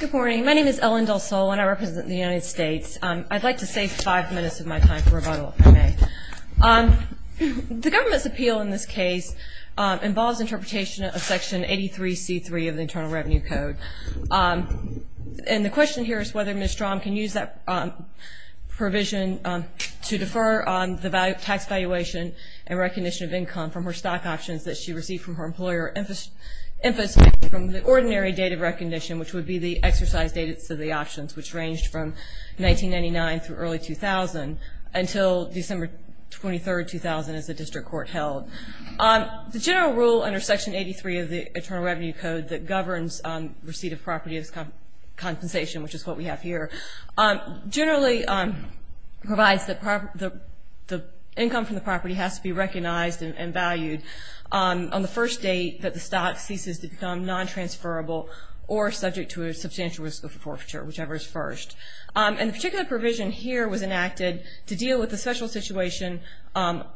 Good morning. My name is Ellen Dulsol and I represent the United States. I'd like to save five minutes of my time for rebuttal, if I may. The government's appeal in this case involves interpretation of Section 83C3 of the Internal Revenue Code. And the question here is whether Ms. Strom can use that provision to defer on the tax valuation and recognition of income from her stock options that she received from her employer, emphasis from the ordinary date of recognition, which would be the exercise dates of the options, which ranged from 1999 through early 2000, until December 23, 2000, as the district court held. The general rule under Section 83 of the Internal Revenue Code that governs receipt of property as compensation, which is what we have here, generally provides that the income from the property has to be recognized and valued on the first date that the stock ceases to become non-transferable or subject to a substantial risk of forfeiture, whichever is first. And the particular provision here was enacted to deal with the special situation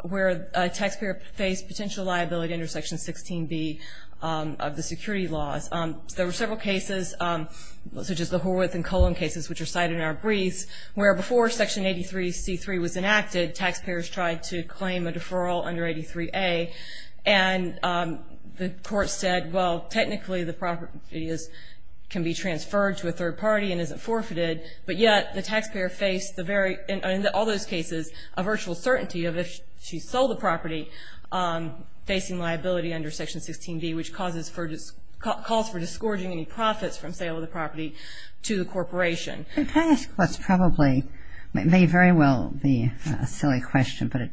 where a taxpayer faced potential liability under Section 16B of the security laws. There were several cases, such as the Horwath and Colon cases, which are cited in our briefs, where before Section 83C3 was enacted, taxpayers tried to claim a deferral under 83A. And the court said, well, technically the property can be transferred to a third party and isn't forfeited, but yet the taxpayer faced, in all those cases, a virtual certainty of if she sold the property, facing liability under Section 16B, which calls for discouraging any profits from sale of the property to the corporation. Can I ask what's probably, may very well be a silly question, but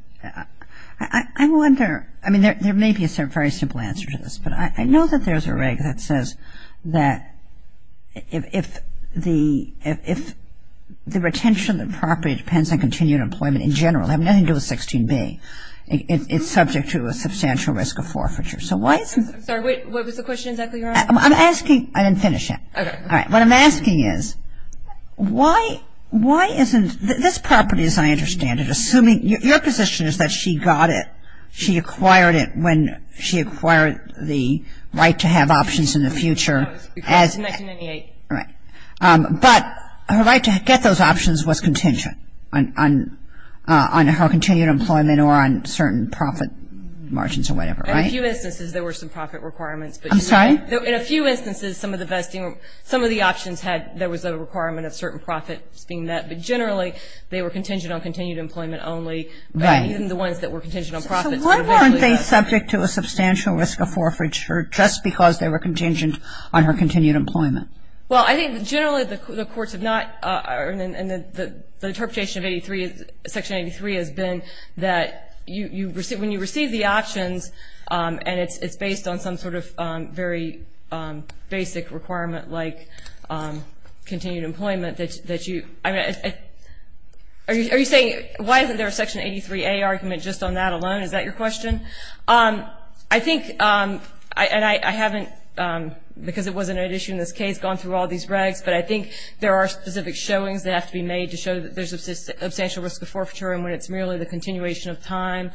I wonder, I mean, there may be a very simple answer to this, but I know that there's a reg that says that if the retention of the property depends on continued employment in general, having nothing to do with 16B, it's subject to a substantial risk of forfeiture. So why isn't it? I'm sorry, what was the question exactly you were asking? I'm asking, I didn't finish yet. Okay. All right. What I'm asking is, why isn't, this property, as I understand it, assuming, your position is that she got it, she acquired it when she acquired the right to have options in the future. It was in 1998. Right. But her right to get those options was contingent on her continued employment or on certain profit margins or whatever, right? In a few instances, there were some profit requirements. I'm sorry? In a few instances, some of the options had, there was a requirement of certain profits being met, but generally, they were contingent on continued employment only. Right. Even the ones that were contingent on profits. So why weren't they subject to a substantial risk of forfeiture, just because they were contingent on her continued employment? Well, I think generally the courts have not, and the interpretation of Section 83 has been that when you receive the options, and it's based on some sort of very basic requirement like continued employment, that you, I mean, are you saying, why isn't there a Section 83A argument just on that alone? Is that your question? I think, and I haven't, because it wasn't an issue in this case, gone through all these regs, but I think there are specific showings that have to be made to show that there's a substantial risk of forfeiture, and when it's merely the continuation of time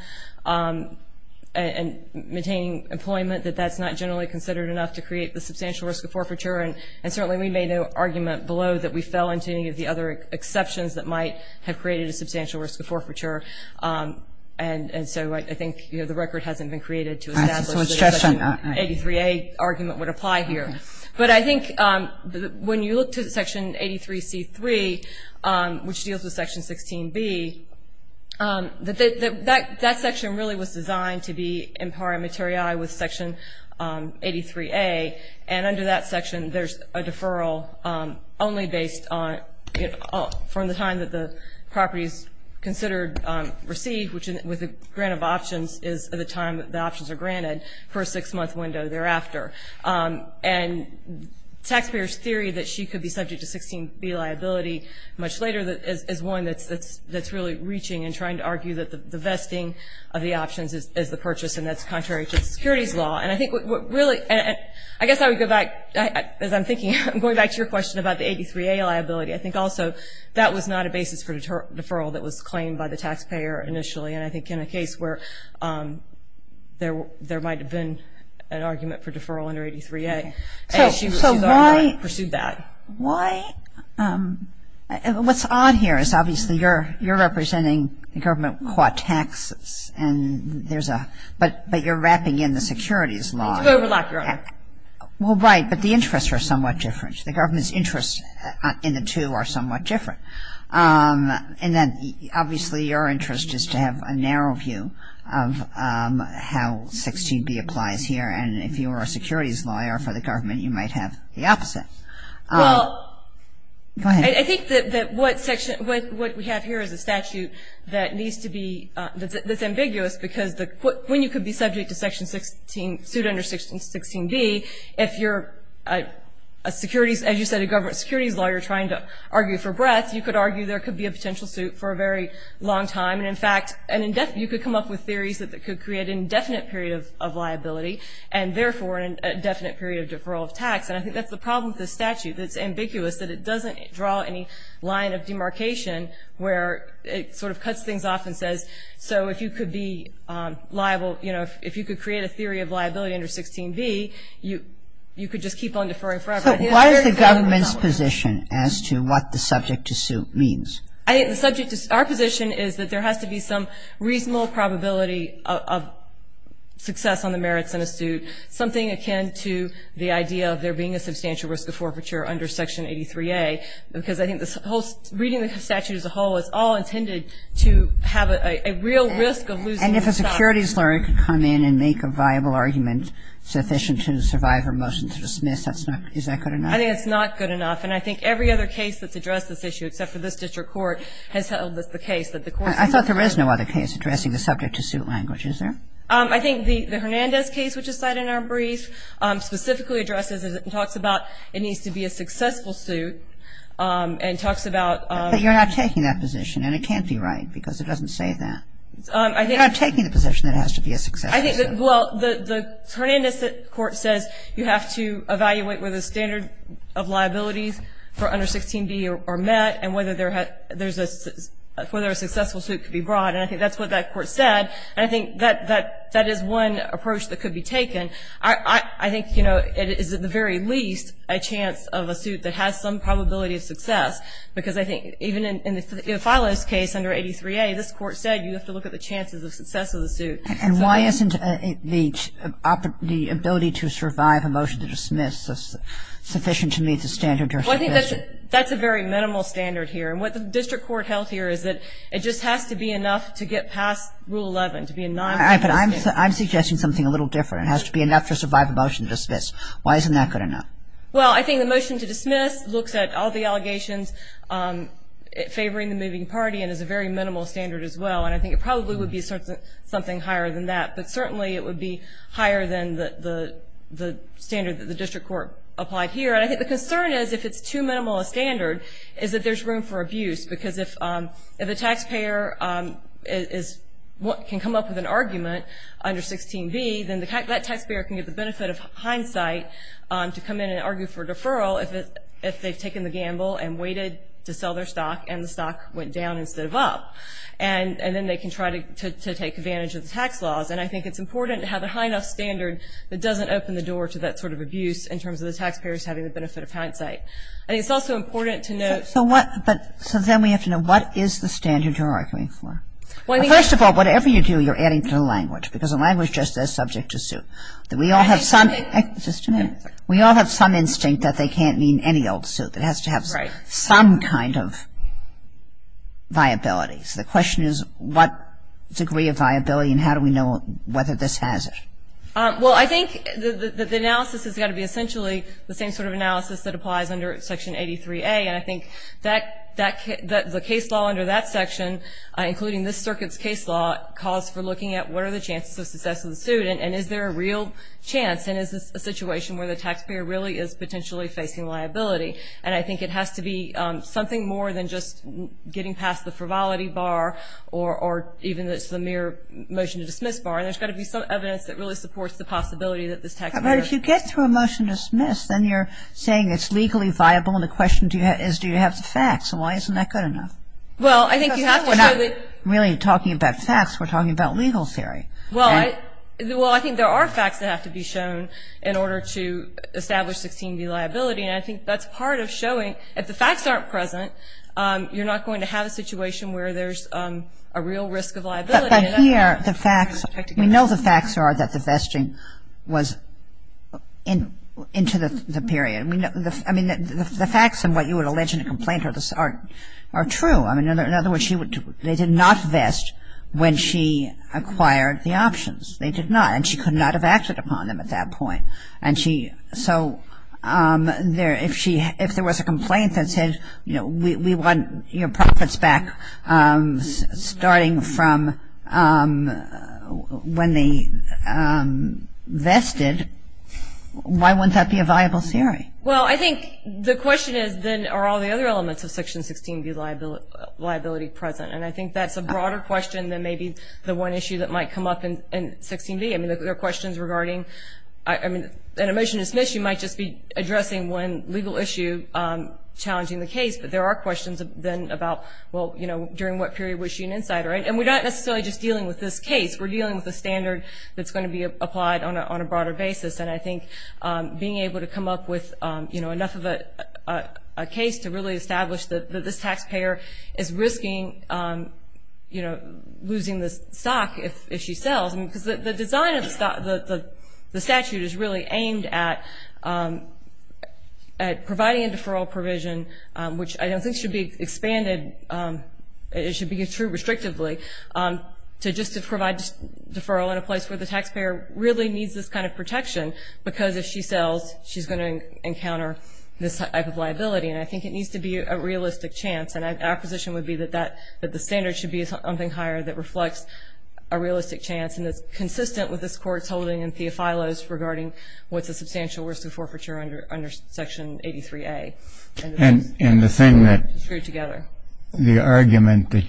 and maintaining employment, that that's not generally considered enough to create the substantial risk of forfeiture. And certainly we made an argument below that we fell into any of the other exceptions that might have created a substantial risk of forfeiture. And so I think, you know, the record hasn't been created to establish that a Section 83A argument would apply here. But I think when you look to Section 83C3, which deals with Section 16B, that section really was designed to be in par materiae with Section 83A, and under that section there's a deferral only based on, you know, from the time that the property is considered received, which with a grant of options is the time that the options are granted for a six-month window thereafter. And taxpayers' theory that she could be subject to 16B liability much later is one that's really reaching and trying to argue that the vesting of the options is the purchase, and that's contrary to securities law. And I think what really, and I guess I would go back, as I'm thinking, I'm going back to your question about the 83A liability. I think also that was not a basis for deferral that was claimed by the taxpayer initially, and I think in a case where there might have been an argument for deferral under 83A. And she pursued that. So why, what's odd here is obviously you're representing the government caught taxes, and there's a, but you're wrapping in the securities law. Because you overlap your own. Well, right. But the interests are somewhat different. The government's interests in the two are somewhat different. And then obviously your interest is to have a narrow view of how 16B applies here. And if you are a securities lawyer for the government, you might have the opposite. Well, I think that what section, what we have here is a statute that needs to be, that's ambiguous because when you could be subject to section 16, suit under section 16B, if you're a securities, as you said, a securities lawyer trying to argue for breath, you could argue there could be a potential suit for a very long time. And in fact, you could come up with theories that could create an indefinite period of liability, and therefore an indefinite period of deferral of tax. And I think that's the problem with this statute. It's ambiguous that it doesn't draw any line of demarcation where it sort of cuts things off and says so if you could be liable, you know, if you could create a theory of liability under 16B, you could just keep on deferring forever. So why is the government's position as to what the subject-to-suit means? I think the subject-to-suit, our position is that there has to be some reasonable probability of success on the merits in a suit, something akin to the idea of there being a substantial risk of forfeiture under section 83A. Because I think reading the statute as a whole, it's all intended to have a real risk of losing the stock. And if a securities lawyer could come in and make a viable argument sufficient to survive a motion to dismiss, is that good enough? I think it's not good enough. And I think every other case that's addressed this issue, except for this district court, has held the case that the court should not. I thought there is no other case addressing the subject-to-suit language. Is there? I think the Hernandez case, which is cited in our brief, specifically addresses and talks about it needs to be a successful suit and talks about But you're not taking that position, and it can't be right because it doesn't say that. I think You're not taking the position that it has to be a successful suit. Well, the Hernandez court says you have to evaluate whether the standard of liabilities for under 16B are met and whether there's a successful suit can be brought. And I think that's what that court said. And I think that is one approach that could be taken. I think, you know, it is at the very least a chance of a suit that has some probability of success because I think even in Filo's case under 83A, this court said you have to look at the chances of success of the suit. And why isn't the ability to survive a motion to dismiss sufficient to meet the standard? Well, I think that's a very minimal standard here. And what the district court held here is that it just has to be enough to get past Rule 11 to be a non-competitive suit. But I'm suggesting something a little different. It has to be enough to survive a motion to dismiss. Why isn't that good enough? Well, I think the motion to dismiss looks at all the allegations favoring the moving party and is a very minimal standard as well. And I think it probably would be something higher than that. But certainly it would be higher than the standard that the district court applied here. And I think the concern is if it's too minimal a standard is that there's room for abuse because if a taxpayer can come up with an argument under 16B, then that taxpayer can get the benefit of hindsight to come in and argue for a deferral if they've taken the gamble and waited to sell their stock and the stock went down instead of up. And then they can try to take advantage of the tax laws. And I think it's important to have a high enough standard that doesn't open the door to that sort of abuse in terms of the taxpayers having the benefit of hindsight. I think it's also important to note. So then we have to know what is the standard you're arguing for? First of all, whatever you do, you're adding to the language because the language just is subject to suit. We all have some instinct that they can't mean any old suit. It has to have some kind of viability. So the question is what degree of viability and how do we know whether this has it? Well, I think the analysis has got to be essentially the same sort of analysis that applies under Section 83A. And I think that the case law under that section, including this circuit's case law, calls for looking at what are the chances of success of the suit and is there a real chance and is this a situation where the taxpayer really is potentially facing liability. And I think it has to be something more than just getting past the frivolity bar or even the mere motion to dismiss bar. And there's got to be some evidence that really supports the possibility that this taxpayer But if you get through a motion to dismiss, then you're saying it's legally viable and the question is do you have the facts and why isn't that good enough? Well, I think you have to show that We're not really talking about facts. We're talking about legal theory. Well, I think there are facts that have to be shown in order to establish succeeding liability. And I think that's part of showing if the facts aren't present, you're not going to have a situation where there's a real risk of liability. But here, the facts, we know the facts are that the vesting was into the period. I mean, the facts and what you would allege in a complaint are true. In other words, they did not vest when she acquired the options. They did not. And she could not have acted upon them at that point. So if there was a complaint that said we want your profits back starting from when they vested, why wouldn't that be a viable theory? Well, I think the question is then are all the other elements of Section 16B liability present? And I think that's a broader question than maybe the one issue that might come up in 16B. I mean, there are questions regarding, I mean, in a motion to dismiss, you might just be addressing one legal issue challenging the case. But there are questions then about, well, you know, during what period was she an insider? And we're not necessarily just dealing with this case. We're dealing with a standard that's going to be applied on a broader basis. And I think being able to come up with, you know, enough of a case to really establish that this taxpayer is risking, you know, losing the stock if she sells. I mean, because the design of the statute is really aimed at providing a deferral provision, which I don't think should be expanded, it should be true restrictively, to just to provide deferral in a place where the taxpayer really needs this kind of protection, because if she sells, she's going to encounter this type of liability. And I think it needs to be a realistic chance. And our position would be that the standard should be something higher that reflects a realistic chance. And it's consistent with this Court's holding in Theophilos regarding what's a substantial risk of forfeiture under Section 83A. And the thing that the argument that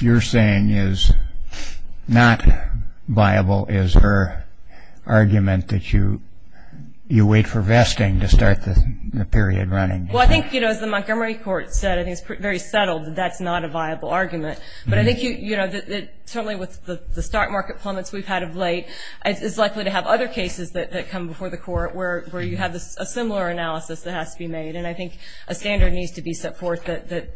you're saying is not viable is her argument that you wait for vesting to start the period running. Well, I think, you know, as the Montgomery Court said, I think it's very settled that that's not a viable argument. But I think, you know, certainly with the stock market plummets we've had of late, it's likely to have other cases that come before the Court where you have a similar analysis that has to be made. And I think a standard needs to be set forth that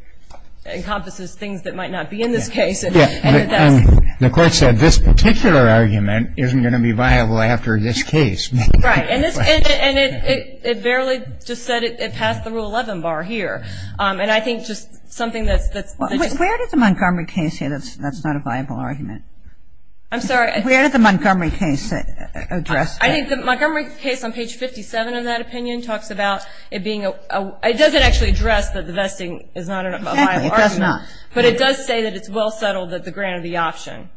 encompasses things that might not be in this case. Yes. And the Court said this particular argument isn't going to be viable after this case. Right. And it barely just said it passed the Rule 11 bar here. And I think just something that's ‑‑ Where did the Montgomery case say that's not a viable argument? I'm sorry. Where did the Montgomery case address that? I think the Montgomery case on page 57 of that opinion talks about it being a ‑‑ it doesn't actually address that the vesting is not a viable argument. Exactly. It does not. But it does say that it's well settled that the grant of the option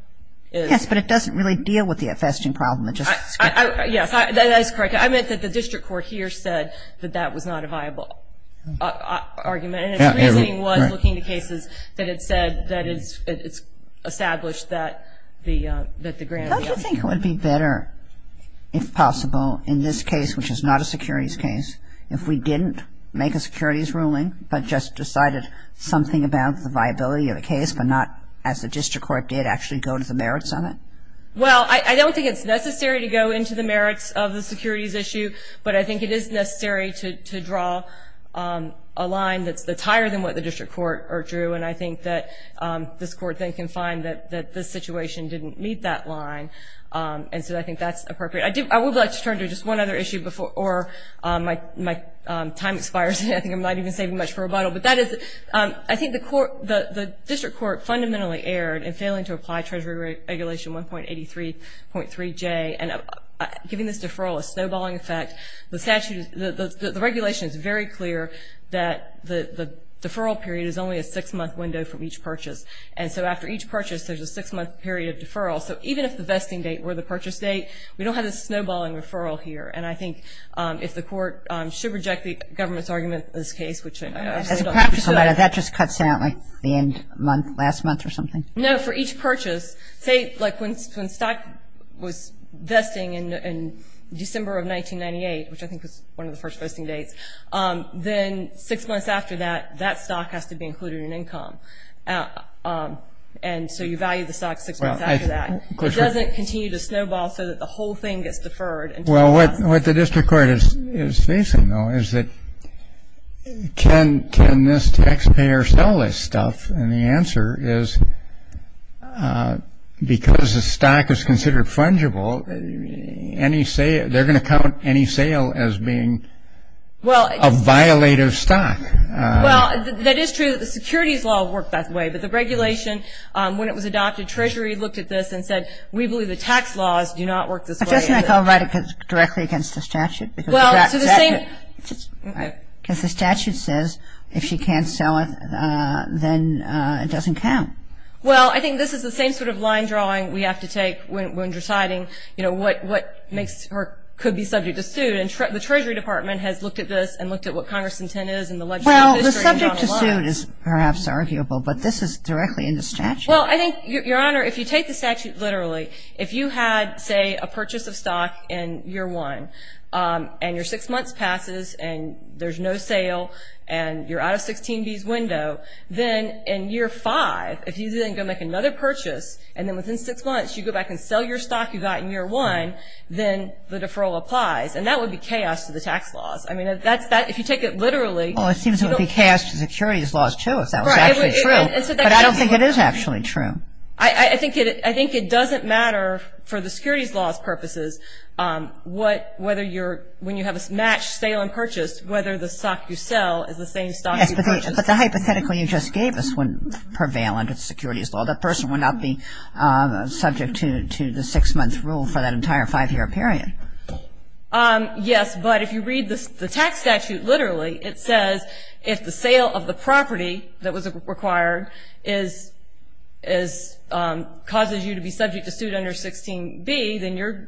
is. Yes. But it doesn't really deal with the vesting problem. Yes. That is correct. I meant that the district court here said that that was not a viable argument. And it really was looking to cases that it said that it's established that the grant is. How do you think it would be better, if possible, in this case, which is not a securities case, if we didn't make a securities ruling but just decided something about the viability of a case but not as the district court did actually go to the merits on it? Well, I don't think it's necessary to go into the merits of the securities issue, but I think it is necessary to draw a line that's higher than what the district court drew. And I think that this court then can find that the situation didn't meet that line. And so I think that's appropriate. I would like to turn to just one other issue before my time expires. I think I'm not even saving much for rebuttal. But that is, I think the district court fundamentally erred in failing to apply Treasury Regulation 1.83.3J and giving this deferral a snowballing effect. The regulation is very clear that the deferral period is only a six-month window from each purchase. And so after each purchase, there's a six-month period of deferral. So even if the vesting date were the purchase date, we don't have this snowballing referral here. And I think if the court should reject the government's argument in this case, which I absolutely don't think it should. As a practical matter, that just cuts out like the end of last month or something? No, for each purchase. Say like when stock was vesting in December of 1998, which I think was one of the first vesting dates, then six months after that, that stock has to be included in income. And so you value the stock six months after that. It doesn't continue to snowball so that the whole thing gets deferred. Well, what the district court is facing, though, is that can this taxpayer sell this stuff? And the answer is because the stock is considered fungible, they're going to count any sale as being a violative stock. Well, that is true. The securities law worked that way. But the regulation, when it was adopted, Treasury looked at this and said, we believe the tax laws do not work this way. Doesn't that go directly against the statute? Because the statute says if she can't sell it, then it doesn't count. Well, I think this is the same sort of line drawing we have to take when deciding, you know, what could be subject to suit. And the Treasury Department has looked at this and looked at what Congress's intent is in the legislative history and gone along. Well, the subject to suit is perhaps arguable, but this is directly in the statute. Well, I think, Your Honor, if you take the statute literally, if you had, say, a purchase of stock in year one and your six months passes and there's no sale and you're out of 16B's window, then in year five, if you then go make another purchase and then within six months you go back and sell your stock you got in year one, then the deferral applies. And that would be chaos to the tax laws. I mean, if you take it literally. Well, it seems it would be chaos to securities laws, too, if that was actually true. But I don't think it is actually true. I think it doesn't matter for the securities law's purposes whether you're when you have a matched sale and purchase, whether the stock you sell is the same stock you purchased. Yes, but the hypothetical you just gave us wouldn't prevail under securities law. That person would not be subject to the six-month rule for that entire five-year period. Yes, but if you read the tax statute literally, it says if the sale of the property that was required causes you to be subject to suit under 16B, then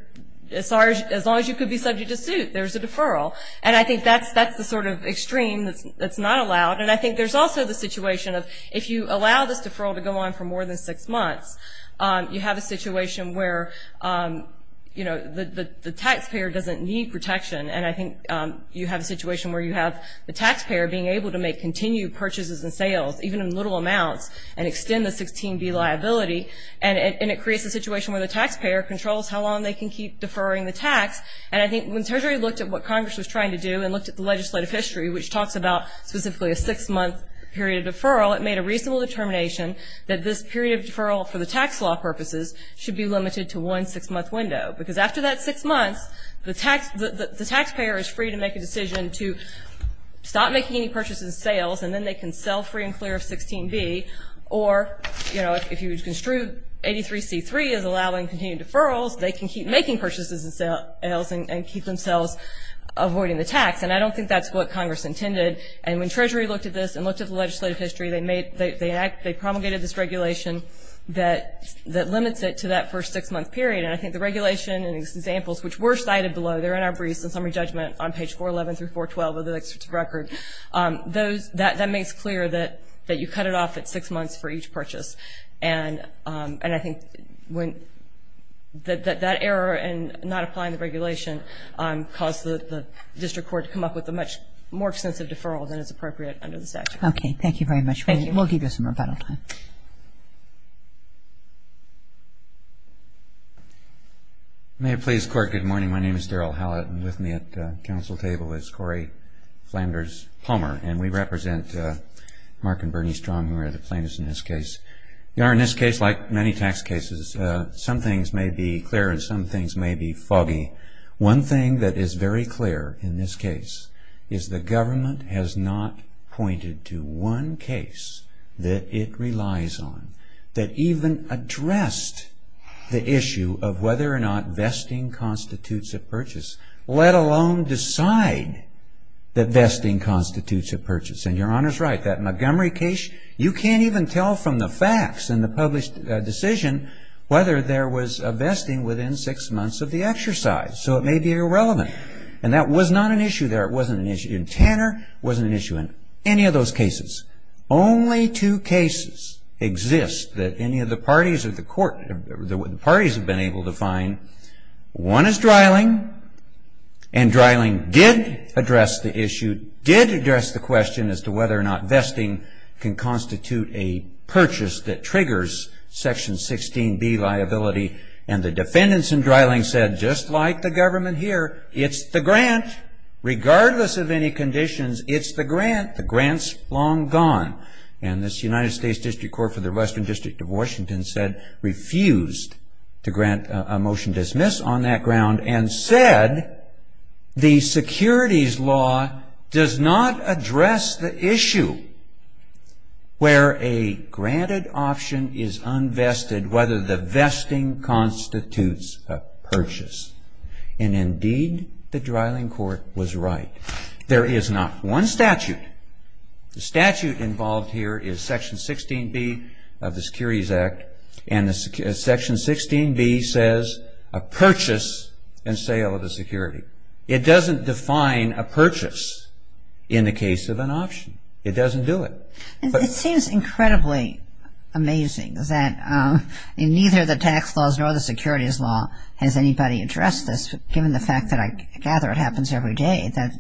as long as you could be subject to suit, there's a deferral. And I think that's the sort of extreme that's not allowed. And I think there's also the situation of if you allow this deferral to go on for more than six months, you have a situation where, you know, the taxpayer doesn't need protection. And I think you have a situation where you have the taxpayer being able to make continued purchases and sales, even in little amounts, and extend the 16B liability. And it creates a situation where the taxpayer controls how long they can keep deferring the tax. And I think when Treasury looked at what Congress was trying to do and looked at the legislative history, which talks about specifically a six-month period of deferral, it made a reasonable determination that this period of deferral for the tax law purposes should be limited to one six-month window. Because after that six months, the taxpayer is free to make a decision to stop making any purchases and sales, and then they can sell free and clear of 16B. Or, you know, if you construe 83C3 as allowing continued deferrals, they can keep making purchases and sales and keep themselves avoiding the tax. And I don't think that's what Congress intended. And when Treasury looked at this and looked at the legislative history, they promulgated this regulation that limits it to that first six-month period. And I think the regulation and these examples, which were cited below, they're in our briefs in summary judgment on page 411 through 412 of the legislative record, that makes clear that you cut it off at six months for each purchase. And I think that that error in not applying the regulation caused the district court to come up with a much more extensive deferral than is appropriate under the statute. Okay. Thank you very much. Thank you. We'll give you some rebuttal time. Thank you. May it please the Court, good morning. My name is Daryl Hallett, and with me at the Council table is Corey Flanders-Palmer, and we represent Mark and Bernie Strong, who are the plaintiffs in this case. You know, in this case, like many tax cases, some things may be clear and some things may be foggy. One thing that is very clear in this case is the government has not pointed to one case that it relies on that even addressed the issue of whether or not vesting constitutes a purchase, let alone decide that vesting constitutes a purchase. And Your Honor is right. That Montgomery case, you can't even tell from the facts in the published decision whether there was a vesting within six months of the exercise, so it may be irrelevant. And that was not an issue there. It wasn't an issue in Tanner. It wasn't an issue in any of those cases. Only two cases exist that any of the parties have been able to find. One is Dreiling, and Dreiling did address the issue, did address the question as to whether or not vesting can constitute a purchase that triggers Section 16B liability, and the defendants in Dreiling said, just like the government here, it's the grant. Regardless of any conditions, it's the grant. The grant's long gone. And this United States District Court for the Western District of Washington said, refused to grant a motion dismiss on that ground and said, the securities law does not address the issue where a granted option is unvested, and whether the vesting constitutes a purchase. And indeed, the Dreiling court was right. There is not one statute. The statute involved here is Section 16B of the Securities Act, and Section 16B says a purchase and sale of the security. It doesn't define a purchase in the case of an option. It doesn't do it. It seems incredibly amazing that in neither the tax laws nor the securities law has anybody addressed this, given the fact that I gather it happens every day, that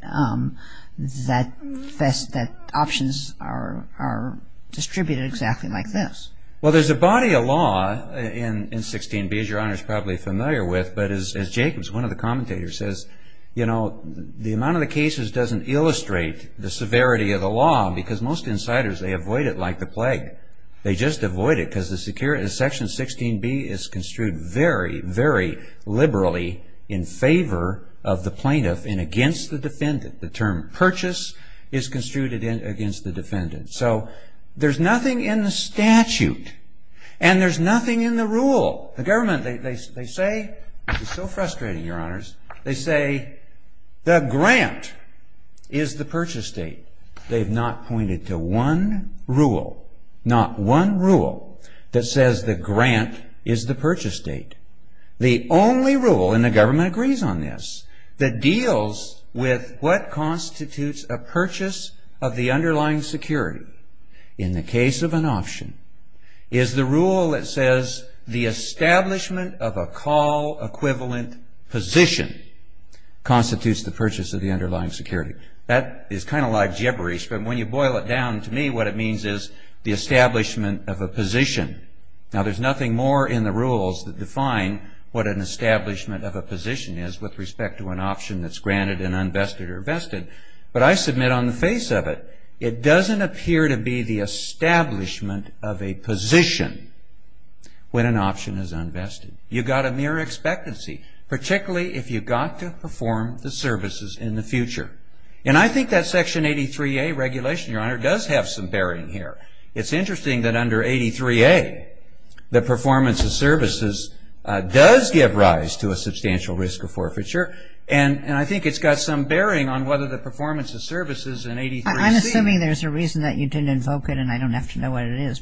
options are distributed exactly like this. Well, there's a body of law in 16B, as Your Honor is probably familiar with, but as Jacobs, one of the commentators, says, you know, the amount of the cases doesn't illustrate the severity of the law because most insiders, they avoid it like the plague. They just avoid it because Section 16B is construed very, very liberally in favor of the plaintiff and against the defendant. The term purchase is construed against the defendant. So there's nothing in the statute, and there's nothing in the rule. The government, they say, it's so frustrating, Your Honors, they say the grant is the purchase date. They've not pointed to one rule, not one rule, that says the grant is the purchase date. The only rule, and the government agrees on this, that deals with what constitutes a purchase of the underlying security in the case of an option is the rule that says the establishment of a call equivalent position constitutes the purchase of the underlying security. That is kind of like gibberish, but when you boil it down to me, what it means is the establishment of a position. Now, there's nothing more in the rules that define what an establishment of a position is with respect to an option that's granted and unvested or vested, but I submit on the face of it, it doesn't appear to be the establishment of a position when an option is unvested. You've got a mere expectancy, particularly if you've got to perform the services in the future. And I think that Section 83A regulation, Your Honor, does have some bearing here. It's interesting that under 83A, the performance of services does give rise to a substantial risk of forfeiture, and I think it's got some bearing on whether the performance of services in 83C. I'm assuming there's a reason that you didn't invoke it, and I don't have to know what it is.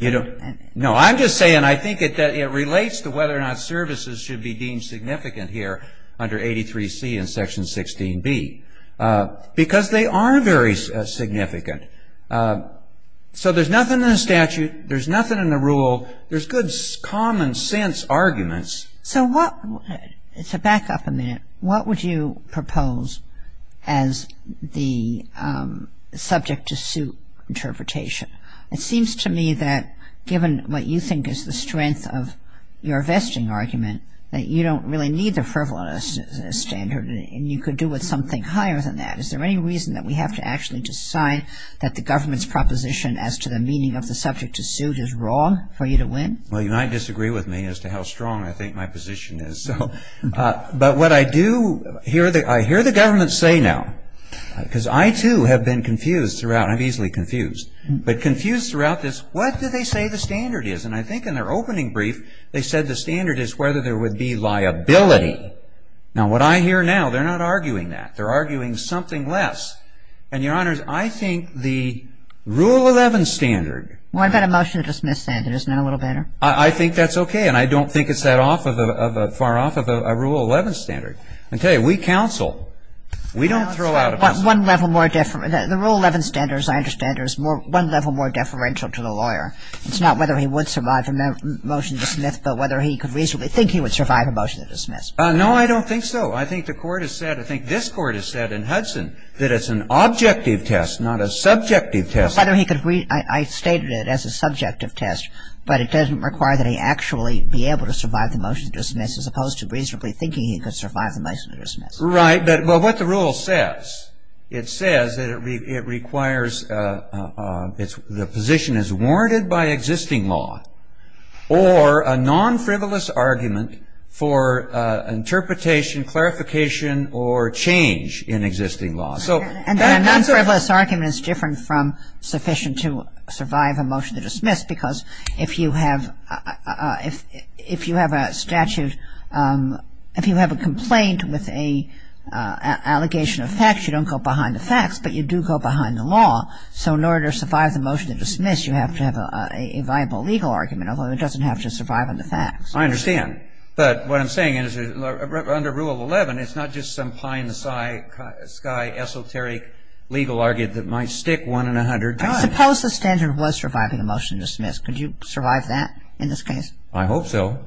No, I'm just saying I think it relates to whether or not services should be deemed significant here under 83C and Section 16B, because they are very significant. So there's nothing in the statute. There's nothing in the rule. There's good common-sense arguments. So back up a minute. What would you propose as the subject-to-suit interpretation? It seems to me that given what you think is the strength of your vesting argument, that you don't really need the frivolous standard, and you could do with something higher than that. Is there any reason that we have to actually decide that the government's proposition as to the meaning of the subject-to-suit is wrong for you to win? Well, you might disagree with me as to how strong I think my position is. But what I do, I hear the government say now, because I, too, have been confused throughout, and I'm easily confused, but confused throughout this, what do they say the standard is? And I think in their opening brief, they said the standard is whether there would be liability. Now, what I hear now, they're not arguing that. They're arguing something less. And, Your Honors, I think the Rule 11 standard. What about a motion to dismiss standard? Isn't that a little better? I think that's okay, and I don't think it's that far off of a Rule 11 standard. I tell you, we counsel. We don't throw out a motion. The Rule 11 standard, as I understand it, is one level more deferential to the lawyer. It's not whether he would survive a motion to dismiss, but whether he could reasonably think he would survive a motion to dismiss. No, I don't think so. I think the Court has said, I think this Court has said in Hudson, that it's an objective test, not a subjective test. I stated it as a subjective test, but it doesn't require that he actually be able to survive the motion to dismiss as opposed to reasonably thinking he could survive the motion to dismiss. Right, but what the Rule says, it says that it requires, the position is warranted by existing law or a non-frivolous argument for interpretation, clarification, or change in existing law. And a non-frivolous argument is different from sufficient to survive a motion to dismiss, because if you have a statute, if you have a complaint with an allegation of facts, you don't go behind the facts, but you do go behind the law. So in order to survive the motion to dismiss, you have to have a viable legal argument, although it doesn't have to survive on the facts. I understand. But what I'm saying is under Rule 11, it's not just some pie-in-the-sky esoteric legal argument that might stick one in a hundred times. Suppose the standard was surviving a motion to dismiss. Could you survive that in this case? I hope so,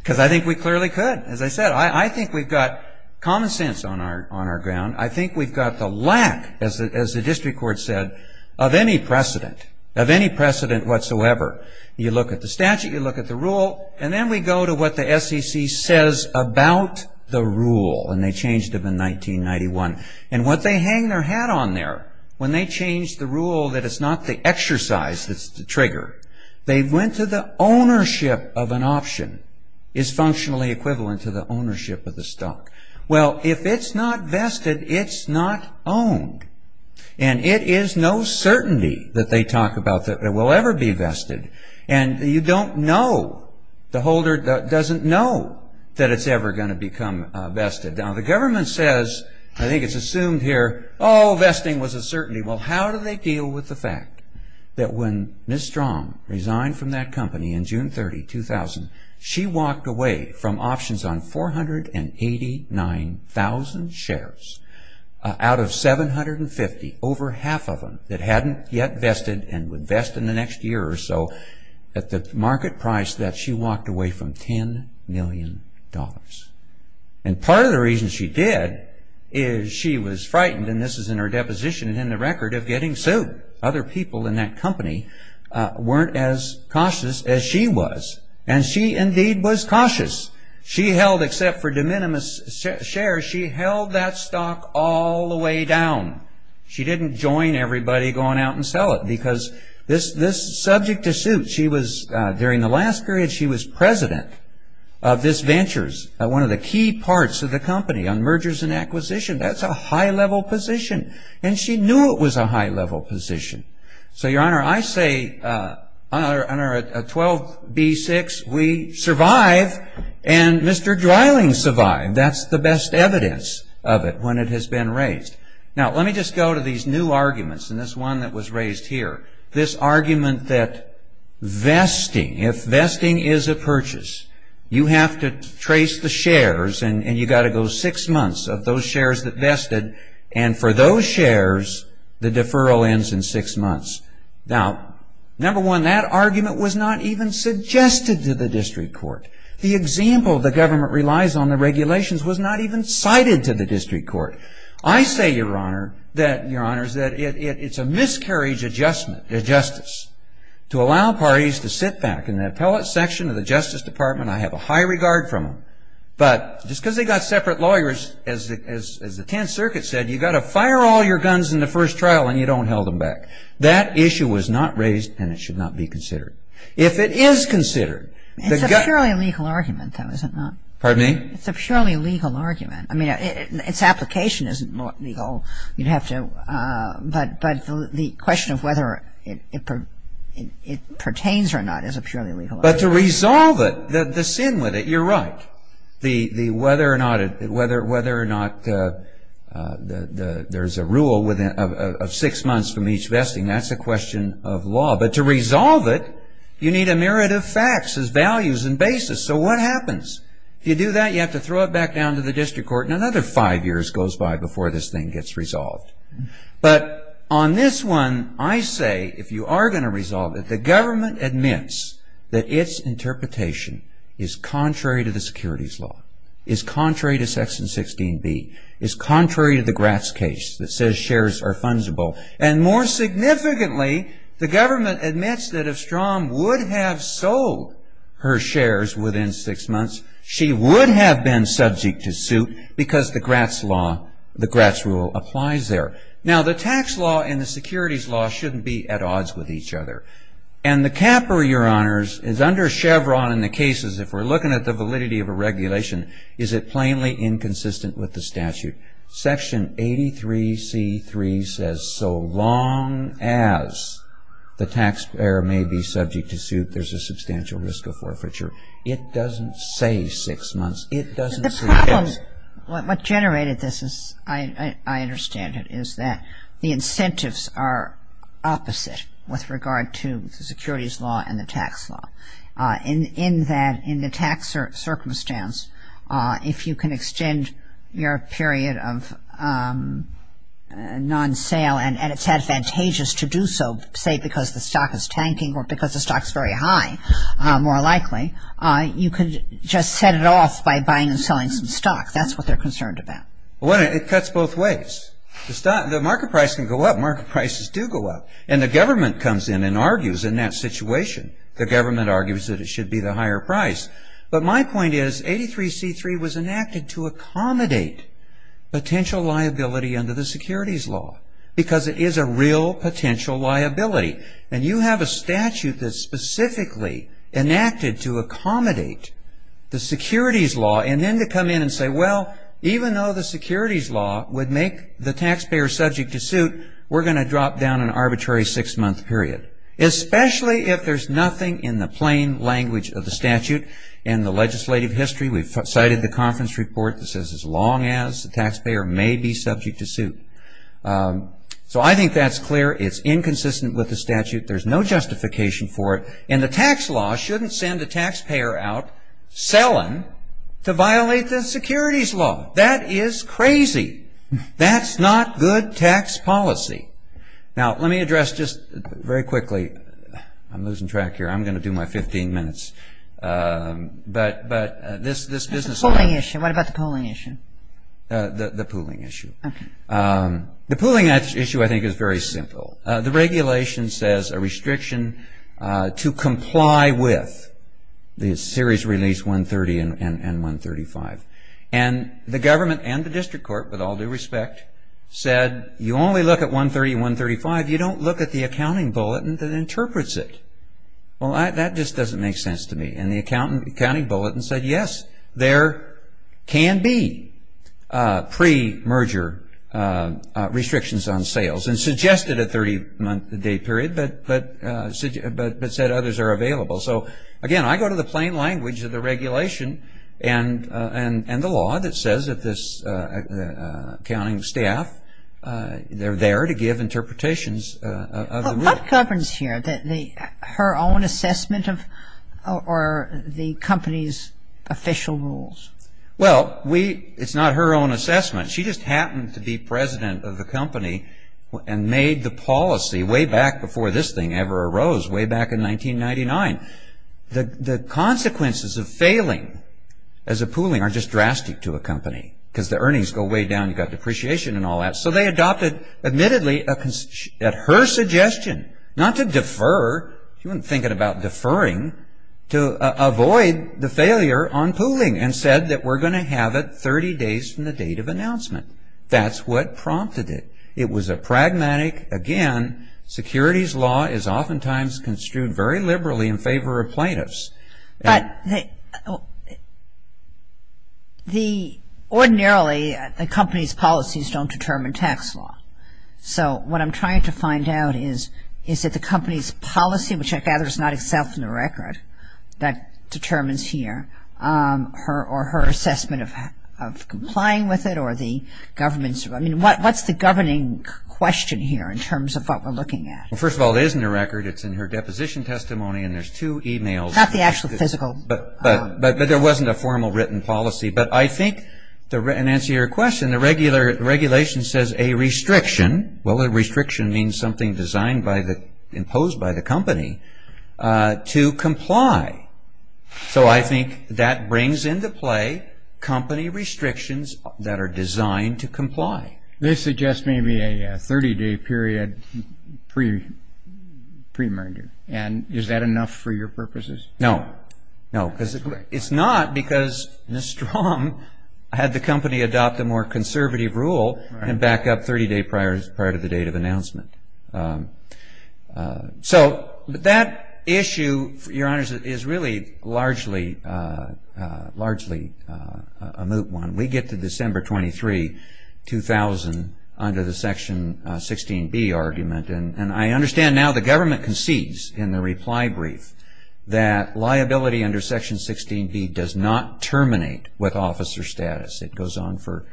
because I think we clearly could. As I said, I think we've got common sense on our ground. I think we've got the lack, as the district court said, of any precedent, of any precedent whatsoever. You look at the statute, you look at the Rule, and then we go to what the SEC says about the Rule when they changed it in 1991. And what they hang their hat on there when they changed the Rule, that it's not the exercise that's the trigger. They went to the ownership of an option is functionally equivalent to the ownership of the stock. Well, if it's not vested, it's not owned. And it is no certainty that they talk about that it will ever be vested. And you don't know. The holder doesn't know that it's ever going to become vested. Now, the government says, I think it's assumed here, oh, vesting was a certainty. Well, how do they deal with the fact that when Ms. Strong resigned from that company in June 30, 2000, she walked away from options on 489,000 shares. Out of 750, over half of them that hadn't yet vested and would vest in the next year or so, at the market price that she walked away from, $10 million. And part of the reason she did is she was frightened. And this is in her deposition and in the record of getting sued. Other people in that company weren't as cautious as she was. And she indeed was cautious. She held, except for de minimis shares, she held that stock all the way down. She didn't join everybody going out and sell it. Because this subject to suit, she was, during the last period, she was president of this Ventures, one of the key parts of the company on mergers and acquisitions. That's a high-level position. And she knew it was a high-level position. So, Your Honor, I say, 12B6, we survive, and Mr. Dreiling survived. That's the best evidence of it when it has been raised. Now, let me just go to these new arguments and this one that was raised here. This argument that vesting, if vesting is a purchase, you have to trace the shares and you've got to go six months of those shares that vested. And for those shares, the deferral ends in six months. Now, number one, that argument was not even suggested to the district court. The example the government relies on, the regulations, was not even cited to the district court. I say, Your Honor, that it's a miscarriage of justice to allow parties to sit back. In the appellate section of the Justice Department, I have a high regard for them. But just because they've got separate lawyers, as the Tenth Circuit said, you've got to fire all your guns in the first trial and you don't hold them back. That issue was not raised and it should not be considered. If it is considered, the gun ---- It's a purely legal argument, though, is it not? Pardon me? It's a purely legal argument. I mean, its application isn't legal. You'd have to ---- But the question of whether it pertains or not is a purely legal argument. But to resolve it, the sin with it, you're right. Whether or not there's a rule of six months from each vesting, that's a question of law. But to resolve it, you need a myriad of facts as values and basis. So what happens? If you do that, you have to throw it back down to the district court. And another five years goes by before this thing gets resolved. But on this one, I say if you are going to resolve it, the government admits that its interpretation is contrary to the securities law, is contrary to Section 16B, is contrary to the Gratz case that says shares are fungible. And more significantly, the government admits that if Strom would have sold her shares within six months, she would have been subject to suit because the Gratz law, the Gratz rule applies there. Now, the tax law and the securities law shouldn't be at odds with each other. And the capper, Your Honors, is under Chevron in the cases, if we're looking at the validity of a regulation, is it plainly inconsistent with the statute. Section 83C3 says so long as the taxpayer may be subject to suit, there's a substantial risk of forfeiture. It doesn't say six months. It doesn't say six. The problem, what generated this is, I understand it, is that the incentives are opposite with regard to the securities law and the tax law. In that, in the tax circumstance, if you can extend your period of non-sale, and it's advantageous to do so, say, because the stock is tanking or because the stock is very high, more likely, you can just set it off by buying and selling some stock. That's what they're concerned about. Well, it cuts both ways. The market price can go up. Market prices do go up. And the government comes in and argues in that situation, the government argues that it should be the higher price. But my point is 83C3 was enacted to accommodate potential liability under the securities law because it is a real potential liability. And you have a statute that's specifically enacted to accommodate the securities law and then to come in and say, well, even though the securities law would make the taxpayer subject to suit, we're going to drop down an arbitrary six-month period, especially if there's nothing in the plain language of the statute and the legislative history. We've cited the conference report that says, as long as the taxpayer may be subject to suit. So I think that's clear. It's inconsistent with the statute. There's no justification for it. And the tax law shouldn't send a taxpayer out selling to violate the securities law. That is crazy. That's not good tax policy. Now, let me address just very quickly. I'm losing track here. I'm going to do my 15 minutes. But this business. What about the pooling issue? The pooling issue. Okay. The pooling issue, I think, is very simple. The regulation says a restriction to comply with the series release 130 and 135. And the government and the district court, with all due respect, said you only look at 130 and 135. You don't look at the accounting bulletin that interprets it. Well, that just doesn't make sense to me. And the accounting bulletin said, yes, there can be pre-merger restrictions on sales and suggested a 30-day period, but said others are available. So, again, I go to the plain language of the regulation and the law that says that this accounting staff, they're there to give interpretations of the rule. What governs here? Her own assessment or the company's official rules? Well, it's not her own assessment. She just happened to be president of the company and made the policy way back before this thing ever arose, way back in 1999. The consequences of failing as a pooling are just drastic to a company because the earnings go way down, you've got depreciation and all that. So they adopted, admittedly, at her suggestion, not to defer. She wasn't thinking about deferring. To avoid the failure on pooling and said that we're going to have it 30 days from the date of announcement. That's what prompted it. It was a pragmatic, again, security's law is oftentimes construed very liberally in favor of plaintiffs. But ordinarily, the company's policies don't determine tax law. So what I'm trying to find out is, is it the company's policy, which I gather is not itself in the record, that determines here, or her assessment of complying with it or the government's? I mean, what's the governing question here in terms of what we're looking at? Well, first of all, it is in the record. It's in her deposition testimony and there's two e-mails. Not the actual physical. But there wasn't a formal written policy. But I think, to answer your question, the regulation says a restriction, well, a restriction means something designed by the, imposed by the company, to comply. So I think that brings into play company restrictions that are designed to comply. They suggest maybe a 30-day period pre-merger. And is that enough for your purposes? No. No, because it's not because Ms. Strom had the company adopt a more conservative rule So that issue, Your Honors, is really largely a moot one. We get to December 23, 2000, under the Section 16B argument. And I understand now the government concedes in the reply brief that liability under Section 16B does not terminate with officer status. It goes on for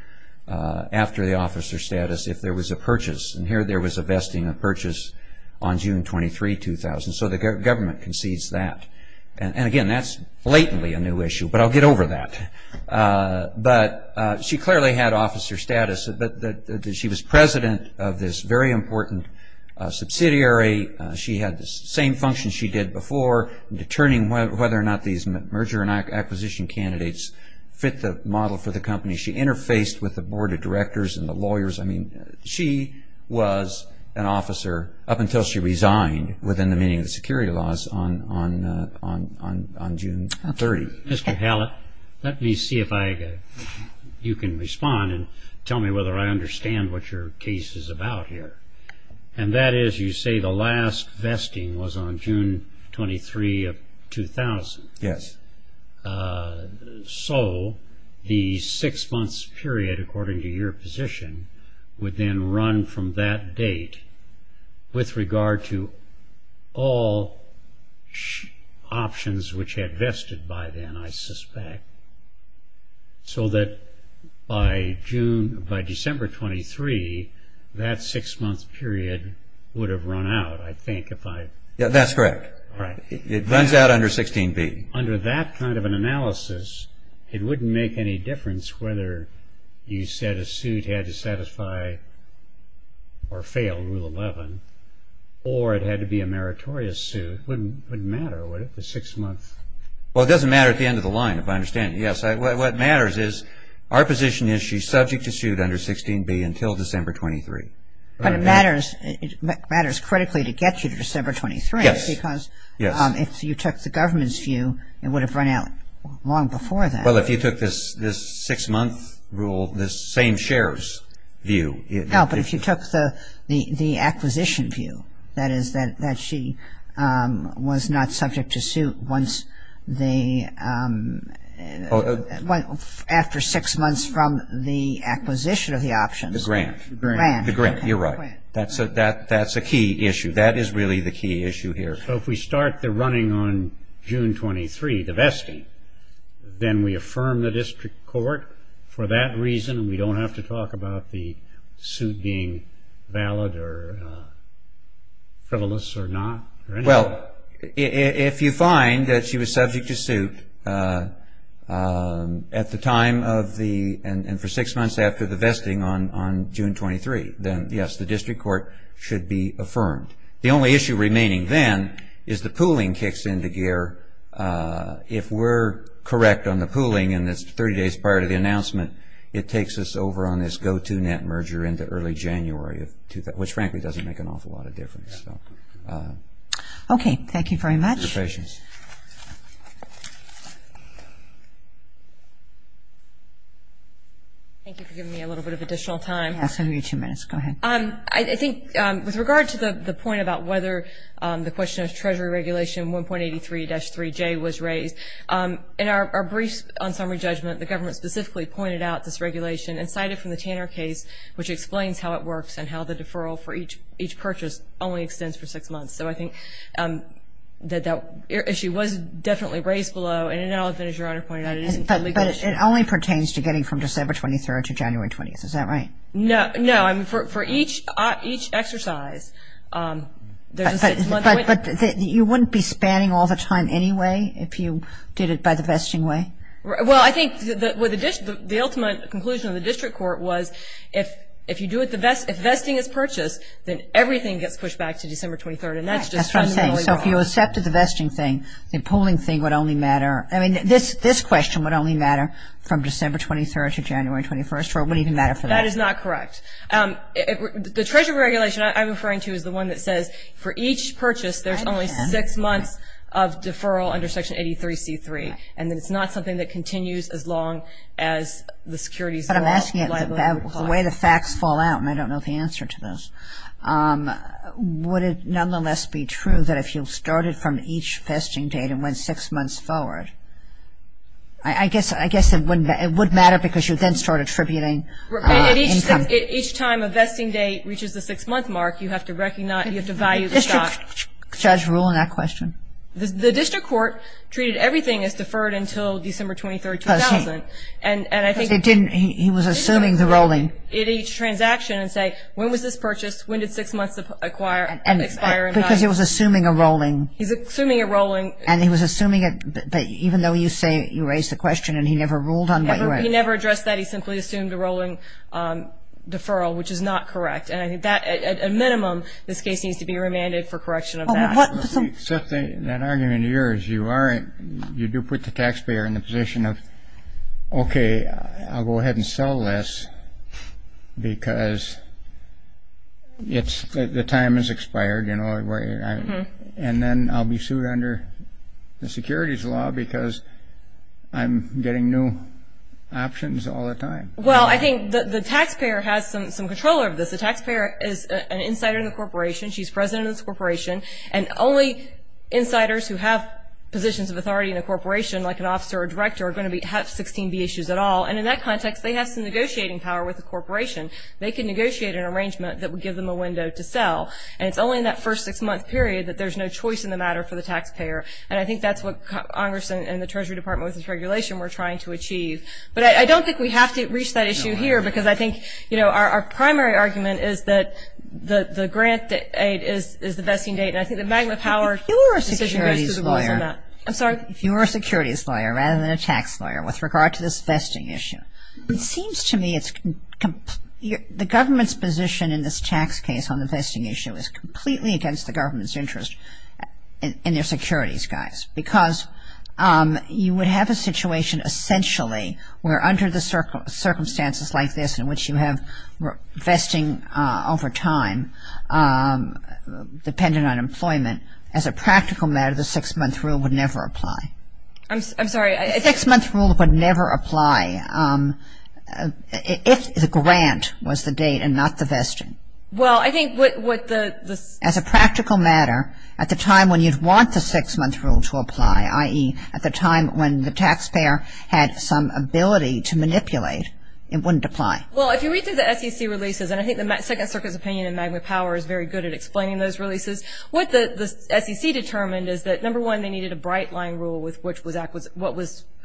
after the officer status if there was a purchase. And here there was a vesting of purchase on June 23, 2000. So the government concedes that. And, again, that's blatantly a new issue. But I'll get over that. But she clearly had officer status. She was president of this very important subsidiary. She had the same function she did before, determining whether or not these merger and acquisition candidates fit the model for the company. She interfaced with the board of directors and the lawyers. I mean, she was an officer up until she resigned within the meaning of the security laws on June 30. Mr. Hallett, let me see if you can respond and tell me whether I understand what your case is about here. And that is you say the last vesting was on June 23, 2000. Yes. So the six-month period, according to your position, would then run from that date with regard to all options which had vested by then, I suspect, so that by December 23, that six-month period would have run out, I think, if I'm right. That's correct. It runs out under 16B. Under that kind of an analysis, it wouldn't make any difference whether you said a suit had to satisfy or fail Rule 11 or it had to be a meritorious suit. It wouldn't matter, would it, the six months? Well, it doesn't matter at the end of the line, if I understand you. Yes. What matters is our position is she's subject to suit under 16B until December 23. But it matters critically to get you to December 23. Yes. Because if you took the government's view, it would have run out long before that. Well, if you took this six-month rule, this same share's view. No, but if you took the acquisition view, that is that she was not subject to suit after six months from the acquisition of the options. The grant. The grant. You're right. That's a key issue. That is really the key issue here. So if we start the running on June 23, the vesting, then we affirm the district court for that reason and we don't have to talk about the suit being valid or frivolous or not or anything? Well, if you find that she was subject to suit at the time of the and for six months after the vesting on June 23, then, yes, the district court should be affirmed. The only issue remaining then is the pooling kicks into gear. If we're correct on the pooling and it's 30 days prior to the announcement, it takes us over on this go-to net merger into early January, which frankly doesn't make an awful lot of difference. Okay. Thank you very much. Thank you for your patience. Thank you for giving me a little bit of additional time. I'll give you two minutes. Go ahead. I think with regard to the point about whether the question of Treasury Regulation 1.83-3J was raised, in our briefs on summary judgment, the government specifically pointed out this regulation and cited from the Tanner case, which explains how it works and how the deferral for each purchase only extends for six months. So I think that that issue was definitely raised below, and in all of it, as Your Honor pointed out, it isn't a legal issue. But it only pertains to getting from December 23rd to January 20th. Is that right? No. For each exercise, there's a six-month window. But you wouldn't be spanning all the time anyway if you did it by the vesting way? Well, I think the ultimate conclusion of the district court was if vesting is purchased, then everything gets pushed back to December 23rd, and that's just fundamentally wrong. That's what I'm saying. So if you accepted the vesting thing, the pooling thing would only matter. I mean, this question would only matter from December 23rd to January 21st, or it wouldn't even matter for that. That is not correct. The Treasury Regulation I'm referring to is the one that says for each purchase, there's only six months of deferral under Section 83-C-3, and that it's not something that continues as long as the securities law. That's what I'm asking. The way the facts fall out, and I don't know the answer to this, would it nonetheless be true that if you started from each vesting date and went six months forward? I guess it would matter because you would then start attributing income. Each time a vesting date reaches the six-month mark, you have to value the stock. Is the judge ruling that question? The district court treated everything as deferred until December 23rd, 2000. He was assuming the rolling. At each transaction and say, when was this purchased? When did six months expire? Because he was assuming a rolling. He's assuming a rolling. And he was assuming it, even though you say you raised the question and he never ruled on what you asked. He never addressed that. He simply assumed a rolling deferral, which is not correct. And I think that, at a minimum, this case needs to be remanded for correction of that. That argument of yours, you do put the taxpayer in the position of, okay, I'll go ahead and sell this because the time has expired. And then I'll be sued under the securities law because I'm getting new options all the time. Well, I think the taxpayer has some control over this. The taxpayer is an insider in the corporation. And only insiders who have positions of authority in a corporation, like an officer or director, are going to have 16B issues at all. And in that context, they have some negotiating power with the corporation. They can negotiate an arrangement that would give them a window to sell. And it's only in that first six-month period that there's no choice in the matter for the taxpayer. And I think that's what Congress and the Treasury Department with this regulation were trying to achieve. But I don't think we have to reach that issue here because I think, you know, our primary argument is that the grant aid is the vesting date. And I think the magma power decision goes to the rules on that. I'm sorry? If you were a securities lawyer rather than a tax lawyer with regard to this vesting issue, it seems to me the government's position in this tax case on the vesting issue is completely against the government's interest in their securities guys. Because you would have a situation essentially where under the circumstances like this in which you have vesting over time dependent on employment, as a practical matter the six-month rule would never apply. I'm sorry? The six-month rule would never apply if the grant was the date and not the vesting. Well, I think what the ‑‑ As a practical matter, at the time when you'd want the six-month rule to apply, i.e., at the time when the taxpayer had some ability to manipulate, it wouldn't apply. Well, if you read through the SEC releases, and I think the Second Circuit's opinion in magma power is very good at explaining those releases, what the SEC determined is that, number one, they needed a bright line rule with what was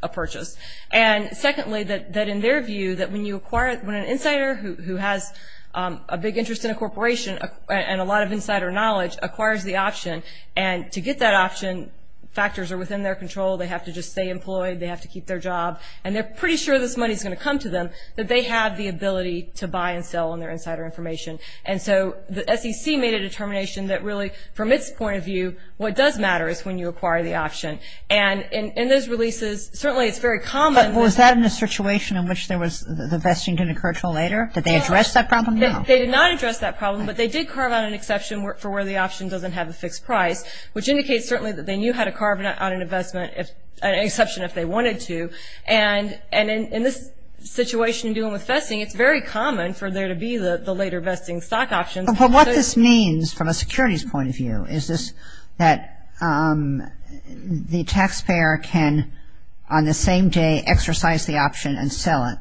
a purchase. And, secondly, that in their view that when you acquire ‑‑ when an insider who has a big interest in a corporation and a lot of insider knowledge acquires the option, and to get that option, factors are within their control. They have to just stay employed. They have to keep their job. And they're pretty sure this money's going to come to them, that they have the ability to buy and sell on their insider information. And so the SEC made a determination that really, from its point of view, what does matter is when you acquire the option. And in those releases, certainly it's very common. But was that in the situation in which there was the vesting didn't occur until later? Did they address that problem? No. They did not address that problem, but they did carve out an exception for where the option doesn't have a fixed price, which indicates certainly that they knew how to carve out an exception if they wanted to. And in this situation in dealing with vesting, it's very common for there to be the later vesting stock options. But what this means from a securities point of view is that the taxpayer can, on the same day, exercise the option and sell it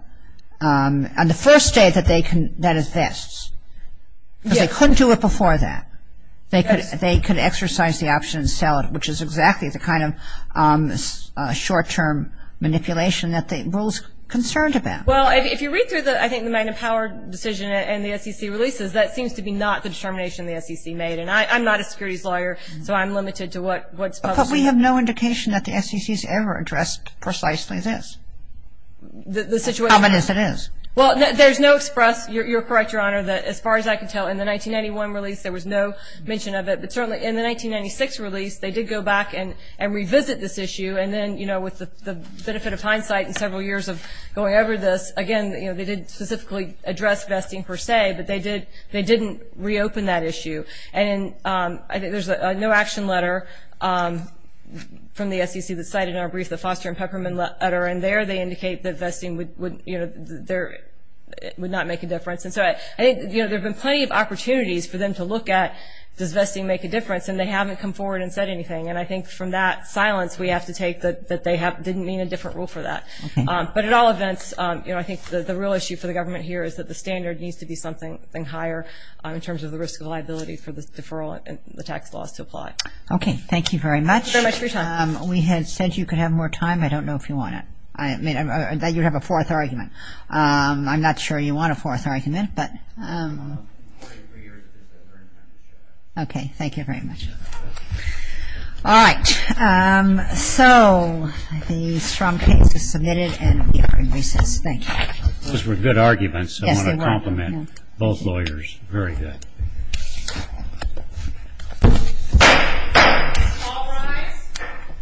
on the first day that it vests. Because they couldn't do it before that. They could exercise the option and sell it, which is exactly the kind of short-term manipulation that the rule's concerned about. Well, if you read through the, I think, the Magnum Power decision and the SEC releases, that seems to be not the determination the SEC made. And I'm not a securities lawyer, so I'm limited to what's public. But we have no indication that the SEC's ever addressed precisely this. The situation is. As common as it is. Well, there's no express. You're correct, Your Honor, that as far as I can tell, in the 1991 release, there was no mention of it. But certainly in the 1996 release, they did go back and revisit this issue. And then, you know, with the benefit of hindsight and several years of going over this, again, they didn't specifically address vesting per se, but they didn't reopen that issue. And I think there's a no action letter from the SEC that's cited in our brief, the Foster and Peppermint letter. And there they indicate that vesting would not make a difference. And so I think, you know, there have been plenty of opportunities for them to look at, does vesting make a difference? And they haven't come forward and said anything. And I think from that silence, we have to take that they didn't mean a different rule for that. Okay. But at all events, you know, I think the real issue for the government here is that the standard needs to be something higher in terms of the risk of liability for the deferral and the tax laws to apply. Okay. Thank you very much. Thank you very much for your time. We had said you could have more time. I don't know if you want it. I mean, you have a fourth argument. I'm not sure you want a fourth argument, but. Okay. Thank you very much. All right. So the strong case is submitted and we are in recess. Thank you. Those were good arguments. Yes, they were. I want to compliment both lawyers. Very good. Thank you. All rise.